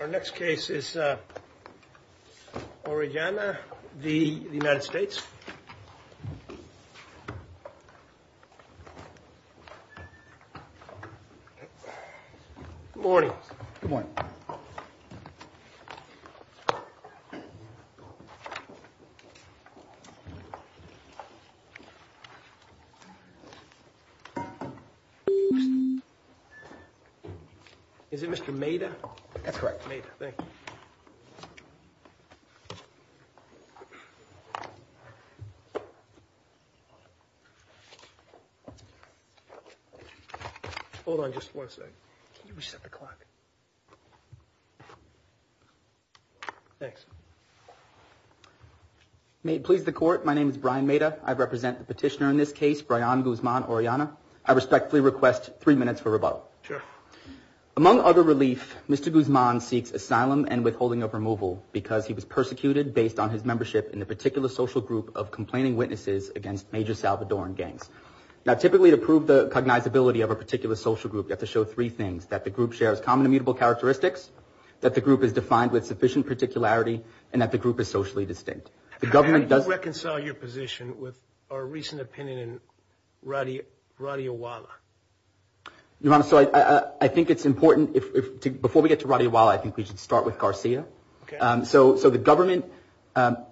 Our next case is Orellana v. United States. Good morning. Good morning. Is it Mr. Maida? That's correct. Maida, thank you. Hold on just one second. Can you reset the clock? Thanks. May it please the Court, my name is Brian Maida. I represent the petitioner in this case, Brian Guzman Orellana. I respectfully request three minutes for rebuttal. Sure. Among other relief, Mr. Guzman seeks asylum and withholding of removal because he was persecuted based on his membership in a particular social group of complaining witnesses against Major Salvadoran gangs. Now, typically to prove the cognizability of a particular social group, you have to show three things, that the group shares common immutable characteristics, that the group is defined with sufficient particularity, and that the group is socially distinct. Can you reconcile your position with our recent opinion in Radio Walla? Your Honor, so I think it's important, before we get to Radio Walla, I think we should start with Garcia. Okay. So the government's argument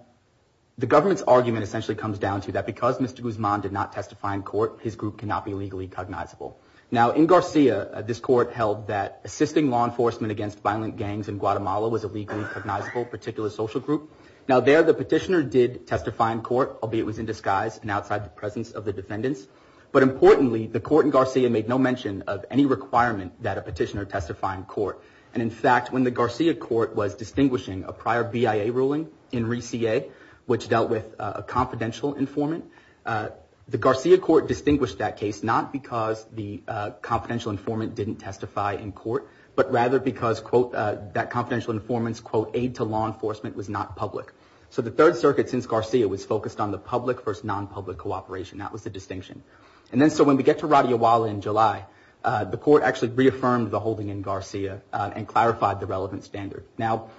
essentially comes down to that because Mr. Guzman did not testify in court, his group cannot be legally cognizable. Now, in Garcia, this court held that assisting law enforcement against violent gangs in Guatemala was a legally cognizable particular social group. Now, there the petitioner did testify in court, albeit it was in disguise and outside the presence of the defendants. But importantly, the court in Garcia made no mention of any requirement that a petitioner testify in court. And, in fact, when the Garcia court was distinguishing a prior BIA ruling in ReCA, which dealt with a confidential informant, the Garcia court distinguished that case not because the confidential informant didn't testify in court, but rather because, quote, that confidential informant's, quote, aid to law enforcement was not public. So the Third Circuit, since Garcia, was focused on the public versus non-public cooperation. That was the distinction. And then so when we get to Radio Walla in July, the court actually reaffirmed the holding in Garcia and clarified the relevant standard. Now,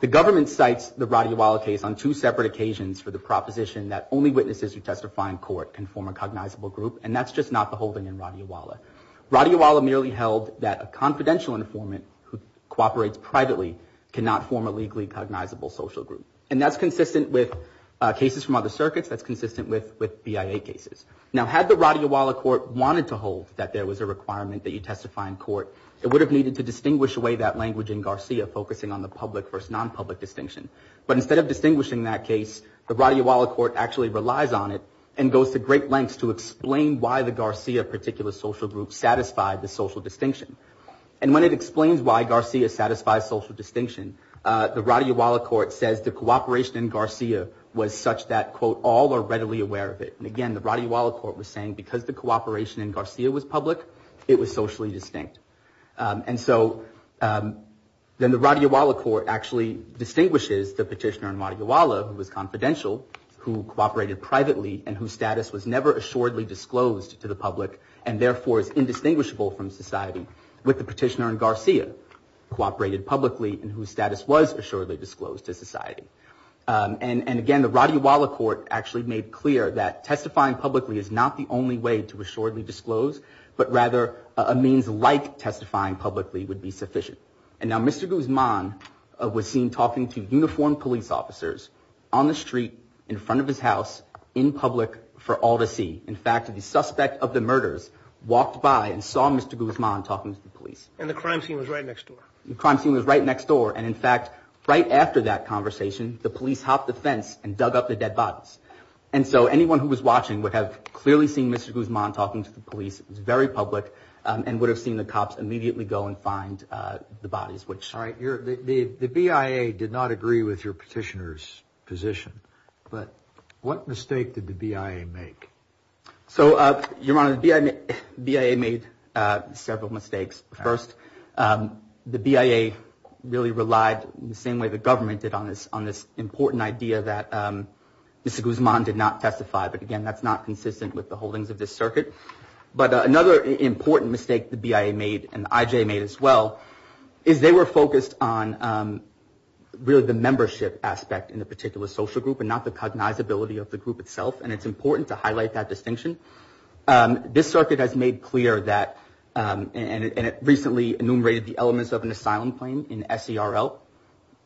the government cites the Radio Walla case on two separate occasions for the proposition that only witnesses who testify in court can form a cognizable group, and that's just not the holding in Radio Walla. Radio Walla merely held that a confidential informant who cooperates privately cannot form a legally cognizable social group. And that's consistent with cases from other circuits. That's consistent with BIA cases. Now, had the Radio Walla court wanted to hold that there was a requirement that you testify in court, it would have needed to distinguish away that language in Garcia focusing on the public versus non-public distinction. But instead of distinguishing that case, the Radio Walla court actually relies on it and goes to great lengths to explain why the Garcia particular social group satisfied the social distinction. And when it explains why Garcia satisfies social distinction, the Radio Walla court says the cooperation in Garcia was such that, quote, all are readily aware of it. And again, the Radio Walla court was saying because the cooperation in Garcia was public, it was socially distinct. And so then the Radio Walla court actually distinguishes the petitioner in Radio Walla who was confidential, who cooperated privately, and whose status was never assuredly disclosed to the public, and therefore is indistinguishable from society, with the petitioner in Garcia, who cooperated publicly and whose status was assuredly disclosed to society. And again, the Radio Walla court actually made clear that testifying publicly is not the only way to assuredly disclose, but rather a means like testifying publicly would be sufficient. And now Mr. Guzman was seen talking to uniformed police officers on the street in front of his house in public for all to see. In fact, the suspect of the murders walked by and saw Mr. Guzman talking to the police. And the crime scene was right next door. The crime scene was right next door. And in fact, right after that conversation, the police hopped the fence and dug up the dead bodies. And so anyone who was watching would have clearly seen Mr. Guzman talking to the police, very public, and would have seen the cops immediately go and find the bodies. All right. The BIA did not agree with your petitioner's position, but what mistake did the BIA make? So, Your Honor, the BIA made several mistakes. First, the BIA really relied, the same way the government did, on this important idea that Mr. Guzman did not testify. But again, that's not consistent with the holdings of this circuit. But another important mistake the BIA made, and the IJ made as well, is they were focused on really the membership aspect in a particular social group and not the cognizability of the group itself. And it's important to highlight that distinction. This circuit has made clear that, and it recently enumerated the elements of an asylum claim in SERL.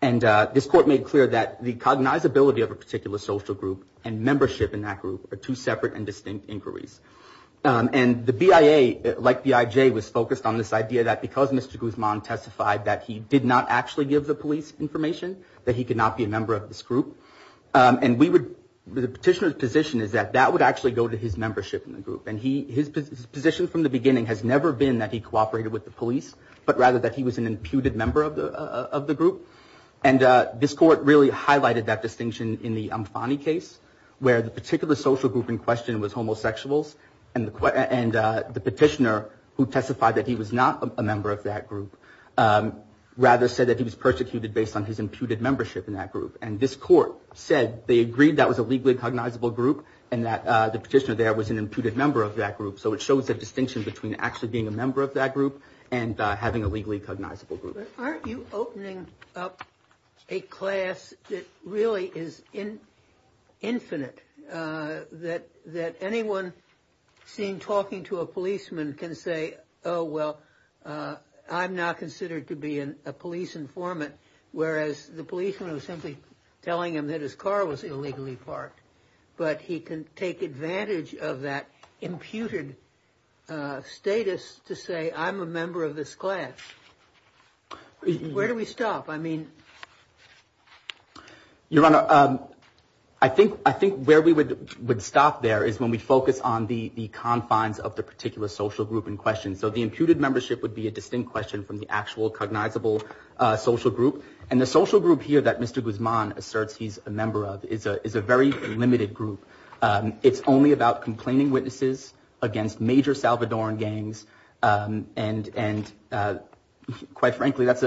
And this court made clear that the cognizability of a particular social group and membership in that group are two separate and distinct inquiries. And the BIA, like the IJ, was focused on this idea that because Mr. Guzman testified that he did not actually give the police information, that he could not be a member of this group. And the petitioner's position is that that would actually go to his membership in the group. And his position from the beginning has never been that he cooperated with the police, but rather that he was an imputed member of the group. And this court really highlighted that distinction in the Amfani case, where the particular social group in question was homosexuals. And the petitioner, who testified that he was not a member of that group, rather said that he was persecuted based on his imputed membership in that group. And this court said they agreed that was a legally cognizable group and that the petitioner there was an imputed member of that group. So it shows a distinction between actually being a member of that group and having a legally cognizable group. Aren't you opening up a class that really is infinite, that anyone seen talking to a policeman can say, oh, well, I'm not considered to be a police informant, whereas the policeman was simply telling him that his car was illegally parked. But he can take advantage of that imputed status to say, I'm a member of this class. Where do we stop? I mean, Your Honor, I think where we would stop there is when we focus on the confines of the particular social group in question. So the imputed membership would be a distinct question from the actual cognizable social group. And the social group here that Mr. Guzman asserts he's a member of is a very limited group. It's only about complaining witnesses against major Salvadoran gangs. And quite frankly, that's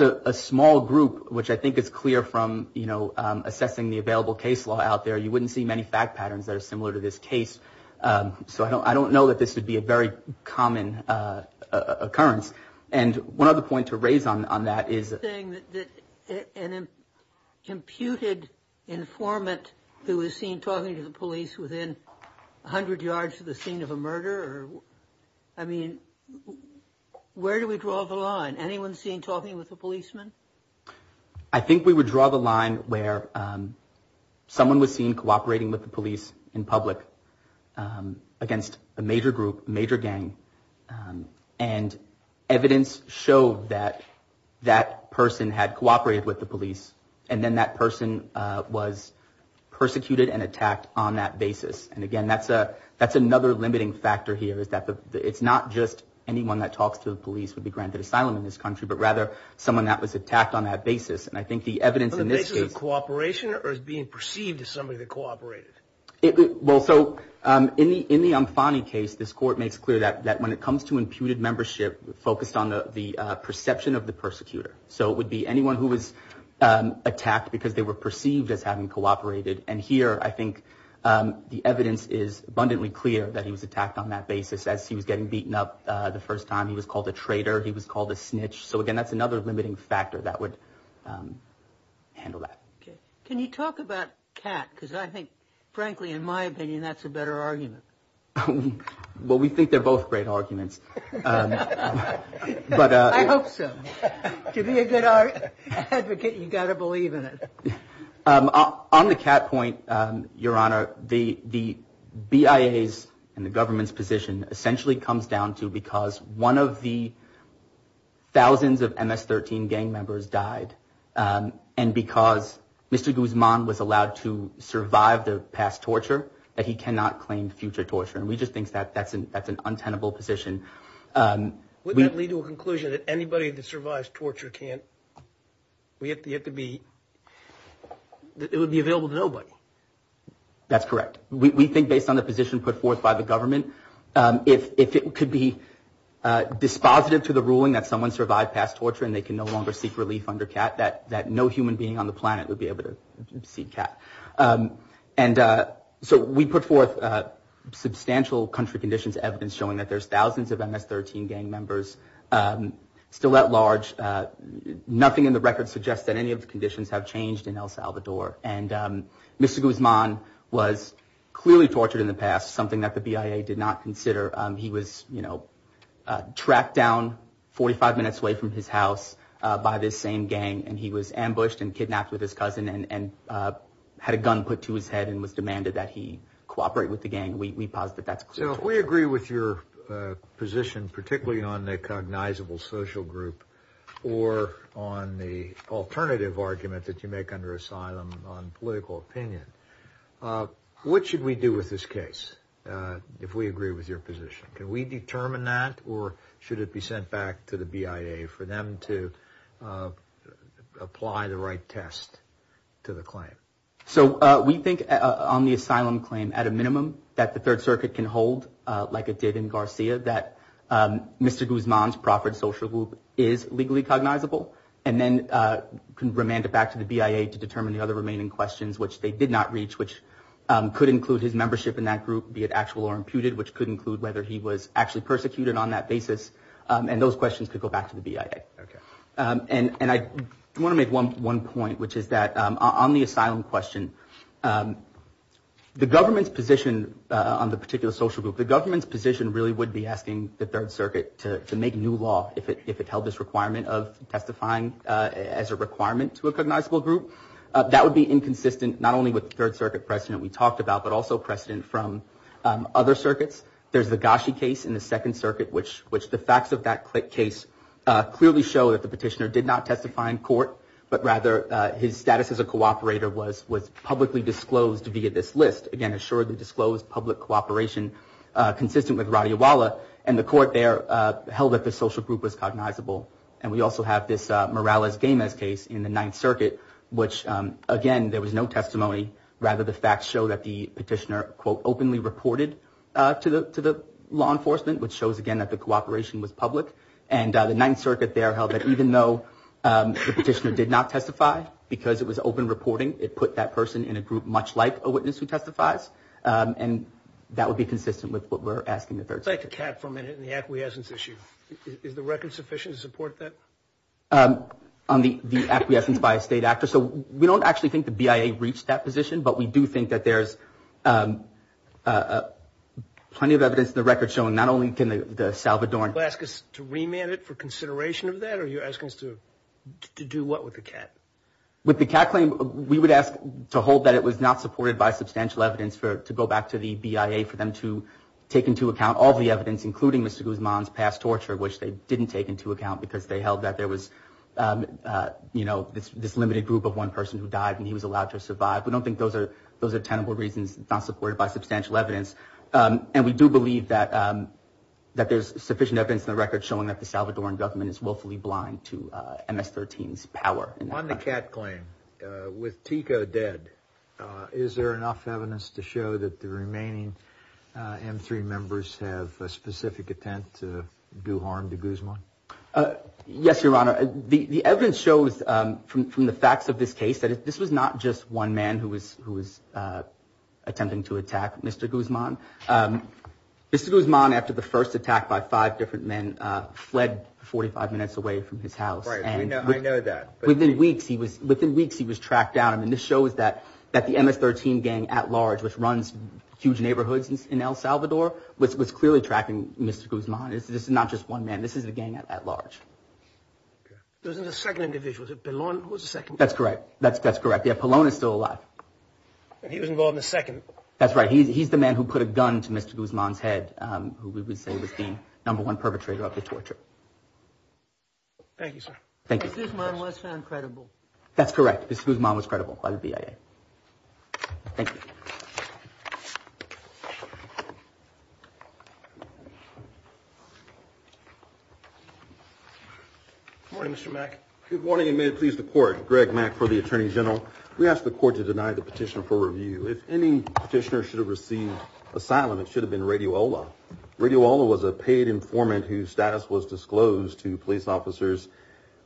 a small group, which I think is clear from, you know, assessing the available case law out there. You wouldn't see many fact patterns that are similar to this case. So I don't know that this would be a very common occurrence. And one other point to raise on that is. An imputed informant who is seen talking to the police within 100 yards of the scene of a murder. I mean, where do we draw the line? Anyone seen talking with a policeman? I think we would draw the line where someone was seen cooperating with the police in public against a major group, major gang. And evidence showed that that person had cooperated with the police. And then that person was persecuted and attacked on that basis. And again, that's a that's another limiting factor here is that it's not just anyone that talks to the police would be granted asylum in this country, but rather someone that was attacked on that basis. And I think the evidence in this cooperation is being perceived as somebody that cooperated. Well, so in the in the I'm funny case, this court makes clear that that when it comes to imputed membership focused on the perception of the persecutor. So it would be anyone who was attacked because they were perceived as having cooperated. And here, I think the evidence is abundantly clear that he was attacked on that basis as he was getting beaten up the first time he was called a traitor. He was called a snitch. So, again, that's another limiting factor that would handle that. Can you talk about Kat? Because I think, frankly, in my opinion, that's a better argument. Well, we think they're both great arguments. But I hope so. To be a good advocate, you've got to believe in it. On the cat point, Your Honor, the the BIAs and the government's position essentially comes down to because one of the thousands of MS-13 gang members died. And because Mr. Guzman was allowed to survive the past torture that he cannot claim future torture. And we just think that that's an that's an untenable position. We don't lead to a conclusion that anybody that survives torture can't. We have yet to be. It would be available to nobody. That's correct. We think based on the position put forth by the government, if it could be dispositive to the ruling that someone survived past torture and they can no longer seek relief under Kat, that that no human being on the planet would be able to see Kat. And so we put forth substantial country conditions, evidence showing that there's thousands of MS-13 gang members still at large. Nothing in the record suggests that any of the conditions have changed in El Salvador. And Mr. Guzman was clearly tortured in the past, something that the BIA did not consider. He was, you know, tracked down 45 minutes away from his house by this same gang. And he was ambushed and kidnapped with his cousin and had a gun put to his head and was demanded that he cooperate with the gang. We posit that that's clear. I agree with your position, particularly on the cognizable social group or on the alternative argument that you make under asylum on political opinion. What should we do with this case if we agree with your position? Can we determine that or should it be sent back to the BIA for them to apply the right test to the claim? So we think on the asylum claim, at a minimum, that the Third Circuit can hold like it did in Garcia, that Mr. Guzman's proffered social group is legally cognizable and then can remand it back to the BIA to determine the other remaining questions, which they did not reach, which could include his membership in that group, be it actual or imputed, which could include whether he was actually persecuted on that basis. And those questions could go back to the BIA. And I want to make one point, which is that on the asylum question, the government's position on the particular social group, the government's position really would be asking the Third Circuit to make new law if it held this requirement of testifying as a requirement to a cognizable group. That would be inconsistent not only with the Third Circuit precedent we talked about, but also precedent from other circuits. There's the Gashi case in the Second Circuit, which the facts of that case clearly show that the petitioner did not testify in court, but rather his status as a cooperator was publicly disclosed via this list. Again, assuredly disclosed public cooperation consistent with Radiwala. And the court there held that the social group was cognizable. And we also have this Morales-Gamez case in the Ninth Circuit, which, again, there was no testimony. Rather, the facts show that the petitioner, quote, openly reported to the law enforcement, which shows, again, that the cooperation was public. And the Ninth Circuit there held that even though the petitioner did not testify because it was open reporting, it put that person in a group much like a witness who testifies. And that would be consistent with what we're asking the Third Circuit. Let's take a cap for a minute on the acquiescence issue. Is the record sufficient to support that? On the acquiescence by a state actor? So we don't actually think the BIA reached that position, but we do think that there's plenty of evidence in the record showing not only can the Salvadoran Ask us to remand it for consideration of that? Or are you asking us to do what with the cap? With the cap claim, we would ask to hold that it was not supported by substantial evidence to go back to the BIA for them to take into account all the evidence, including Mr. Guzman's past torture, which they didn't take into account because they held that there was, you know, this limited group of one person who died and he was allowed to survive. We don't think those are those are tenable reasons not supported by substantial evidence. And we do believe that that there's sufficient evidence in the record showing that the Salvadoran government is willfully blind to MS-13's power. On the cap claim with Tico dead, is there enough evidence to show that the remaining M3 members have a specific attempt to do harm to Guzman? Yes, Your Honor. The evidence shows from from the facts of this case that this was not just one man who was who was attempting to attack Mr. Guzman. Mr. Guzman, after the first attack by five different men, fled 45 minutes away from his house. And I know that within weeks he was within weeks he was tracked down. And this shows that that the MS-13 gang at large, which runs huge neighborhoods in El Salvador, was clearly tracking Mr. Guzman. This is not just one man. This is a gang at large. There's a second individual. That's correct. That's that's correct. The Apollon is still alive. He was involved in the second. That's right. He's the man who put a gun to Mr. Guzman's head, who we would say was the number one perpetrator of the torture. Thank you, sir. Thank you. Guzman was found credible. That's correct. Guzman was credible by the BIA. Thank you. Good morning, Mr. Mack. Good morning and may it please the court. Greg Mack for the attorney general. We ask the court to deny the petition for review. If any petitioner should have received asylum, it should have been Radiola. Radiola was a paid informant whose status was disclosed to police officers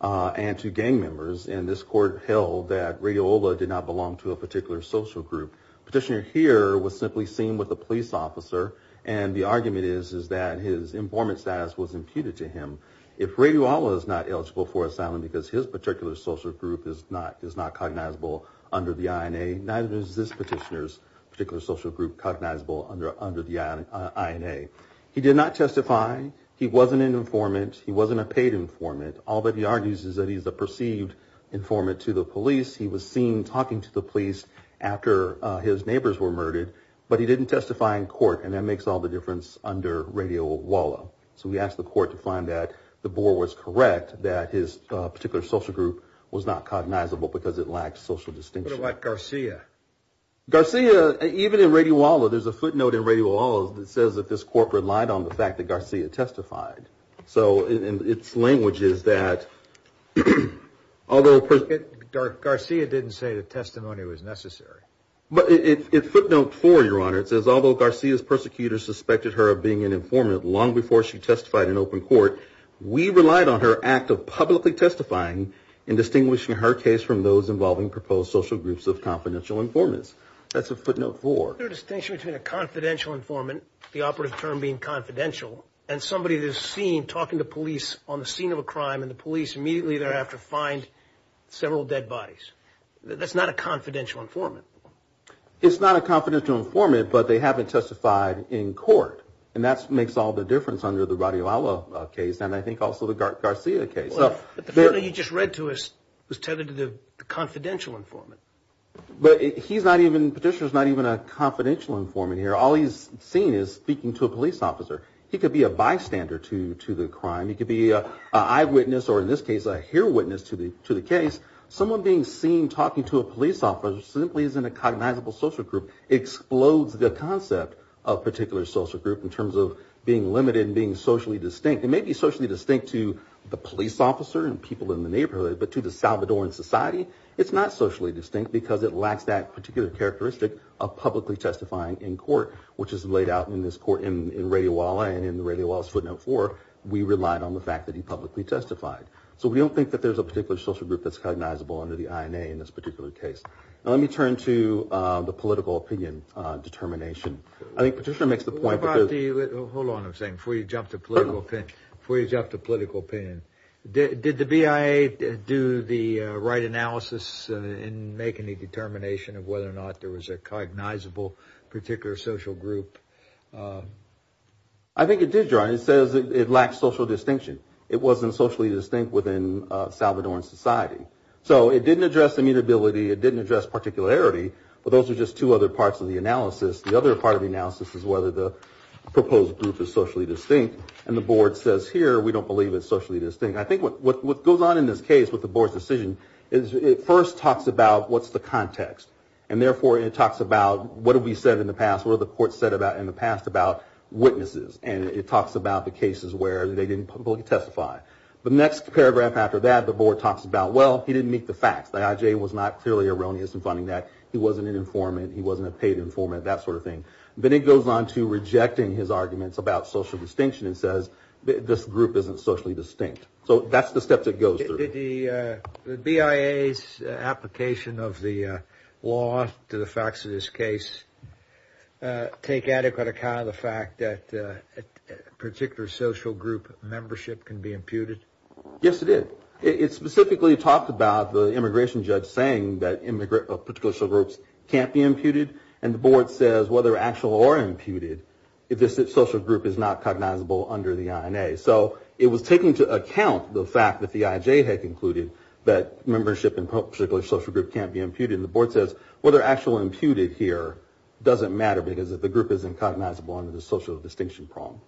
and to gang members. And this court held that Radiola did not belong to a particular social group. Petitioner here was simply seen with a police officer. And the argument is, is that his informant status was imputed to him. If Radiola is not eligible for asylum because his particular social group is not cognizable under the INA, neither is this petitioner's particular social group cognizable under the INA. He did not testify. He wasn't an informant. He wasn't a paid informant. All that he argues is that he's a perceived informant to the police. He was seen talking to the police after his neighbors were murdered. But he didn't testify in court. And that makes all the difference under Radiola. So we asked the court to find that the board was correct, that his particular social group was not cognizable because it lacked social distinction. But what about Garcia? Garcia, even in Radiola, there's a footnote in Radiola that says that this court relied on the fact that Garcia testified. So its language is that although... Garcia didn't say the testimony was necessary. But it footnoted four, Your Honor. It says, although Garcia's persecutors suspected her of being an informant long before she testified in open court, we relied on her act of publicly testifying in distinguishing her case from those involving proposed social groups of confidential informants. That's a footnote four. There's a distinction between a confidential informant, the operative term being confidential, and somebody that is seen talking to police on the scene of a crime, and the police immediately thereafter find several dead bodies. That's not a confidential informant. It's not a confidential informant, but they haven't testified in court. And that makes all the difference under the Radiola case, and I think also the Garcia case. But the footnote you just read to us was tethered to the confidential informant. But he's not even, the petitioner's not even a confidential informant here. All he's seen is speaking to a police officer. He could be a bystander to the crime. He could be an eyewitness or, in this case, a hear witness to the case. Someone being seen talking to a police officer simply isn't a cognizable social group. It explodes the concept of particular social group in terms of being limited and being socially distinct. It may be socially distinct to the police officer and people in the neighborhood, but to the Salvadoran society, it's not socially distinct because it lacks that particular characteristic of publicly testifying in court, which is laid out in this court in Radiola and in Radiola's footnote four. We relied on the fact that he publicly testified. So we don't think that there's a particular social group that's cognizable under the INA in this particular case. Now let me turn to the political opinion determination. I think Petitioner makes the point. Hold on a second before you jump to political opinion. Did the BIA do the right analysis in making the determination of whether or not there was a cognizable particular social group? I think it did, John. It says it lacks social distinction. It wasn't socially distinct within Salvadoran society. So it didn't address immutability. It didn't address particularity, but those are just two other parts of the analysis. The other part of the analysis is whether the proposed group is socially distinct, and the board says here we don't believe it's socially distinct. I think what goes on in this case with the board's decision is it first talks about what's the context, and therefore it talks about what have we said in the past, what have the courts said in the past about witnesses, and it talks about the cases where they didn't publicly testify. The next paragraph after that, the board talks about, well, he didn't meet the facts. The IJ was not clearly erroneous in finding that. He wasn't an informant. He wasn't a paid informant, that sort of thing. Then it goes on to rejecting his arguments about social distinction and says this group isn't socially distinct. So that's the steps it goes through. Did the BIA's application of the law to the facts of this case take adequate account of the fact that a particular social group membership can be imputed? Yes, it did. It specifically talked about the immigration judge saying that particular social groups can't be imputed, and the board says whether actual or imputed, if this social group is not cognizable under the INA. So it was taking into account the fact that the IJ had concluded that membership in a particular social group can't be imputed, and the board says whether actual or imputed here doesn't matter because the group isn't cognizable under the social distinction prong.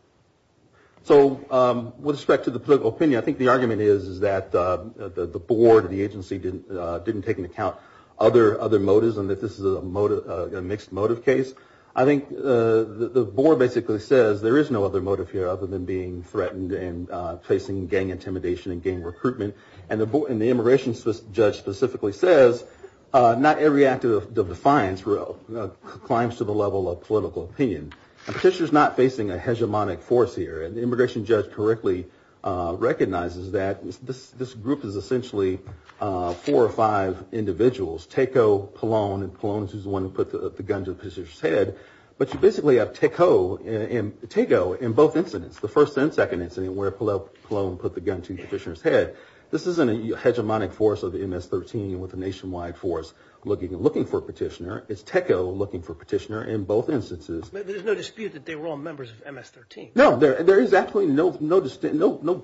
So with respect to the political opinion, I think the argument is that the board, the agency, didn't take into account other motives and that this is a mixed motive case. I think the board basically says there is no other motive here other than being threatened and facing gang intimidation and gang recruitment, and the immigration judge specifically says not every act of defiance climbs to the level of political opinion. The petitioner is not facing a hegemonic force here, and the immigration judge correctly recognizes that this group is essentially four or five individuals, Teco, Palone, and Palone is the one who put the gun to the petitioner's head, but you basically have Teco in both incidents, the first and second incident where Palone put the gun to the petitioner's head. This isn't a hegemonic force of the MS-13 with a nationwide force looking for a petitioner. It's Teco looking for a petitioner in both instances. But there's no dispute that they were all members of MS-13. No, there is actually no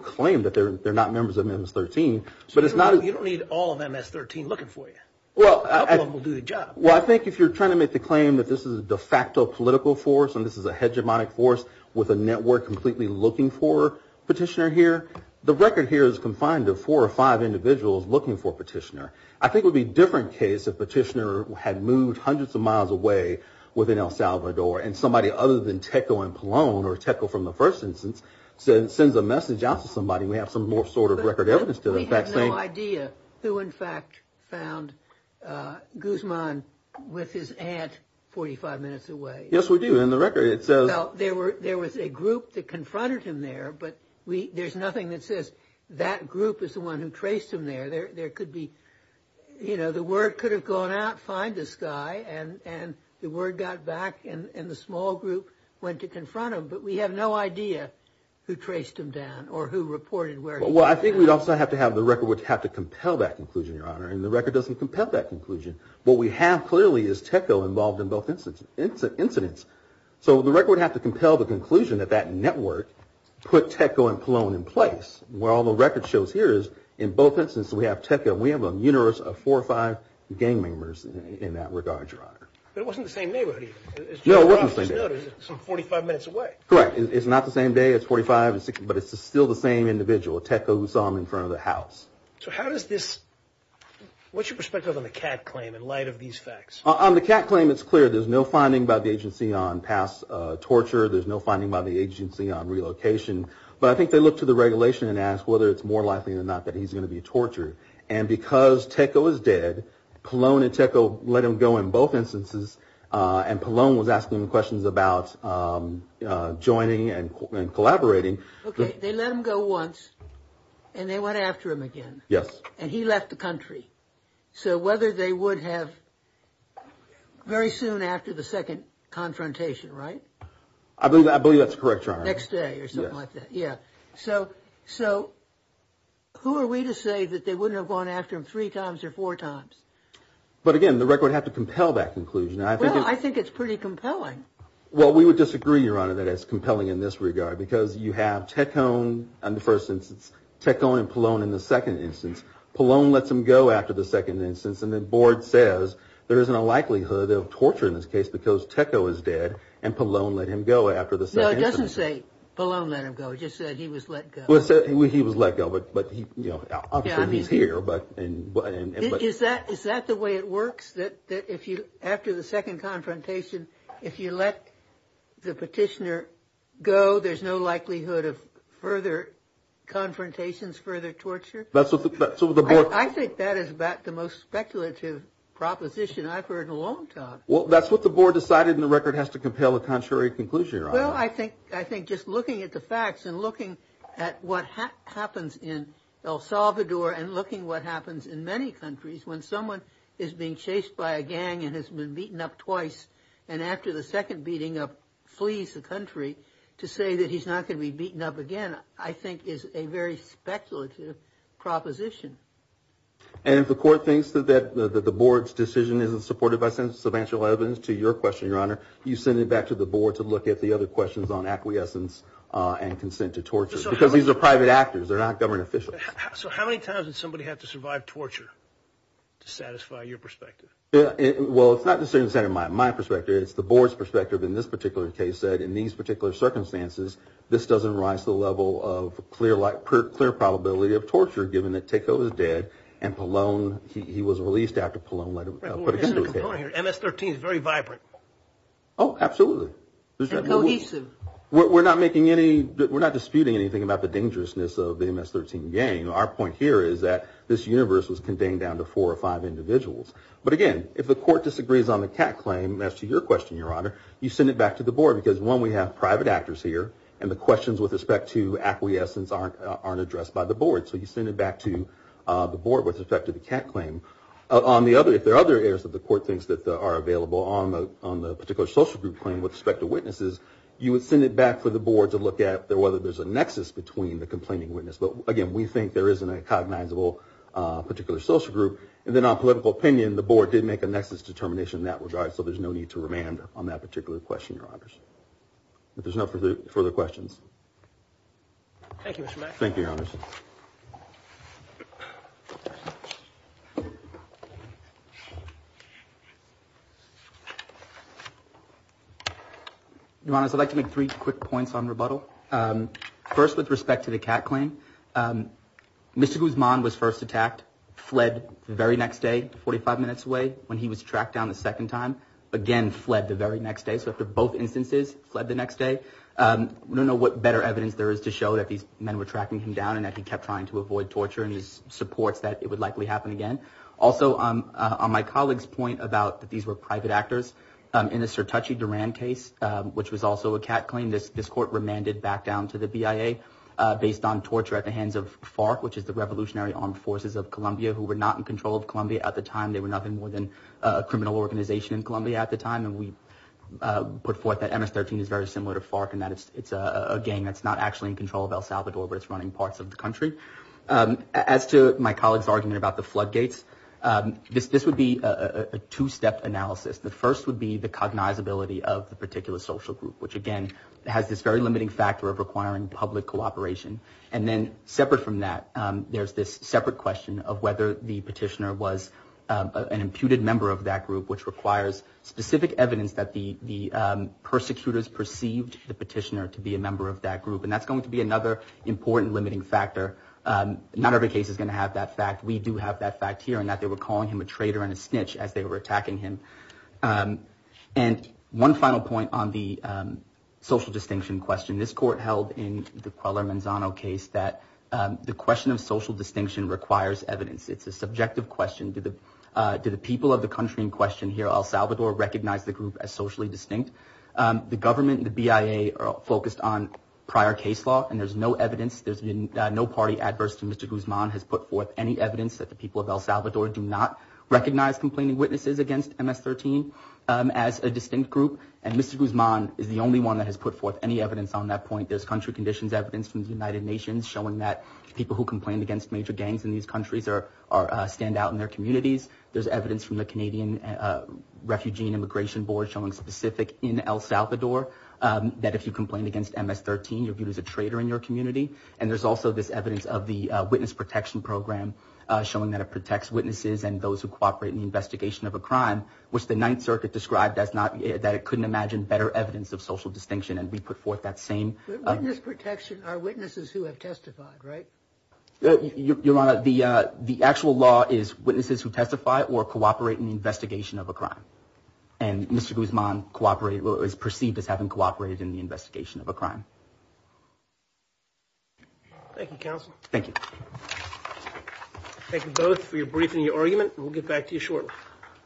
claim that they're not members of MS-13, but it's not a – So you don't need all of MS-13 looking for you? Well, I – A couple of them will do the job. Well, I think if you're trying to make the claim that this is a de facto political force and this is a hegemonic force with a network completely looking for a petitioner here, the record here is confined to four or five individuals looking for a petitioner. I think it would be a different case if a petitioner had moved hundreds of miles away within El Salvador and somebody other than Teco and Palone or Teco from the first instance sends a message out to somebody. We have some more sort of record evidence to that. We have no idea who in fact found Guzman with his aunt 45 minutes away. Yes, we do. In the record it says – Well, there was a group that confronted him there, but there's nothing that says that group is the one who traced him there. There could be – you know, the word could have gone out, find this guy, and the word got back and the small group went to confront him. But we have no idea who traced him down or who reported where he was. Well, I think we'd also have to have – the record would have to compel that conclusion, Your Honor, and the record doesn't compel that conclusion. What we have clearly is Teco involved in both incidents, so the record would have to compel the conclusion that that network put Teco and Palone in place. Where all the record shows here is in both instances we have Teco and we have a universe of four or five gang members in that regard, Your Honor. But it wasn't the same neighborhood either. No, it wasn't the same neighborhood. It's 45 minutes away. Correct. It's not the same day. It's 45 and 60, but it's still the same individual, Teco, who saw him in front of the house. So how does this – what's your perspective on the Catt claim in light of these facts? On the Catt claim, it's clear there's no finding by the agency on past torture. There's no finding by the agency on relocation. But I think they looked at the regulation and asked whether it's more likely or not that he's going to be tortured. And because Teco is dead, Palone and Teco let him go in both instances, and Palone was asking questions about joining and collaborating. Okay. They let him go once and they went after him again. Yes. And he left the country. So whether they would have very soon after the second confrontation, right? I believe that's correct, Your Honor. Next day or something like that. Yeah. So who are we to say that they wouldn't have gone after him three times or four times? But, again, the record would have to compel that conclusion. Well, I think it's pretty compelling. Well, we would disagree, Your Honor, that it's compelling in this regard because you have Teco in the first instance, Teco and Palone in the second instance. Palone lets him go after the second instance, and the board says there isn't a likelihood of torture in this case because Teco is dead and Palone let him go after the second instance. No, it doesn't say Palone let him go. It just said he was let go. Well, it said he was let go, but obviously he's here. Is that the way it works? That after the second confrontation, if you let the petitioner go, there's no likelihood of further confrontations, further torture? I think that is about the most speculative proposition I've heard in a long time. Well, that's what the board decided, and the record has to compel a contrary conclusion, Your Honor. Well, I think just looking at the facts and looking at what happens in El Salvador and looking at what happens in many countries when someone is being chased by a gang and has been beaten up twice and after the second beating up flees the country to say that he's not going to be beaten up again, I think is a very speculative proposition. And if the court thinks that the board's decision isn't supported by substantial evidence, to your question, Your Honor, you send it back to the board to look at the other questions on acquiescence and consent to torture because these are private actors. They're not government officials. So how many times did somebody have to survive torture to satisfy your perspective? Well, it's not necessarily my perspective. It's the board's perspective in this particular case that in these particular circumstances, this doesn't rise to the level of clear probability of torture given that Teco is dead MS-13 is very vibrant. Oh, absolutely. It's cohesive. We're not disputing anything about the dangerousness of the MS-13 gang. Our point here is that this universe was contained down to four or five individuals. But again, if the court disagrees on the cat claim, as to your question, Your Honor, you send it back to the board because, one, we have private actors here and the questions with respect to acquiescence aren't addressed by the board. So you send it back to the board with respect to the cat claim. If there are other areas that the court thinks that are available on the particular social group claim with respect to witnesses, you would send it back for the board to look at whether there's a nexus between the complaining witness. But again, we think there isn't a cognizable particular social group. And then on political opinion, the board did make a nexus determination in that regard, so there's no need to remand on that particular question, Your Honors. If there's no further questions. Thank you, Mr. Mack. Thank you, Your Honors. Thank you. Your Honors, I'd like to make three quick points on rebuttal. First, with respect to the cat claim, Mr. Guzman was first attacked, fled the very next day, 45 minutes away, when he was tracked down the second time, again fled the very next day. So after both instances, fled the next day. We don't know what better evidence there is to show that these men were tracking him down and that he kept trying to avoid torture and he supports that it would likely happen again. Also, on my colleague's point about that these were private actors, in the Sertacci-Duran case, which was also a cat claim, this court remanded back down to the BIA based on torture at the hands of FARC, which is the Revolutionary Armed Forces of Colombia, who were not in control of Colombia at the time. They were nothing more than a criminal organization in Colombia at the time. And we put forth that MS-13 is very similar to FARC and that it's a gang that's not actually in control of El Salvador, but it's running parts of the country. As to my colleague's argument about the floodgates, this would be a two-step analysis. The first would be the cognizability of the particular social group, which again has this very limiting factor of requiring public cooperation. And then separate from that, there's this separate question of whether the petitioner was an imputed member of that group, which requires specific evidence that the persecutors perceived the petitioner to be a member of that group. And that's going to be another important limiting factor. Not every case is going to have that fact. We do have that fact here in that they were calling him a traitor and a snitch as they were attacking him. And one final point on the social distinction question. This court held in the Cuellar-Manzano case that the question of social distinction requires evidence. It's a subjective question. Do the people of the country in question here, El Salvador, recognize the group as socially distinct? The government and the BIA are focused on prior case law, and there's no evidence. There's been no party adverse to Mr. Guzman has put forth any evidence that the people of El Salvador do not recognize complaining witnesses against MS-13 as a distinct group. And Mr. Guzman is the only one that has put forth any evidence on that point. There's country conditions evidence from the United Nations showing that people who complained against major gangs in these countries stand out in their communities. There's evidence from the Canadian Refugee and Immigration Board showing specific in El Salvador that if you complained against MS-13, you're viewed as a traitor in your community. And there's also this evidence of the Witness Protection Program showing that it protects witnesses and those who cooperate in the investigation of a crime, which the Ninth Circuit described as not that it couldn't imagine better evidence of social distinction. And we put forth that same. Witness protection are witnesses who have testified, right? Your Honor, the actual law is witnesses who testify or cooperate in the investigation of a crime. And Mr. Guzman cooperated or is perceived as having cooperated in the investigation of a crime. Thank you, counsel. Thank you. Thank you both for your brief and your argument. We'll get back to you shortly.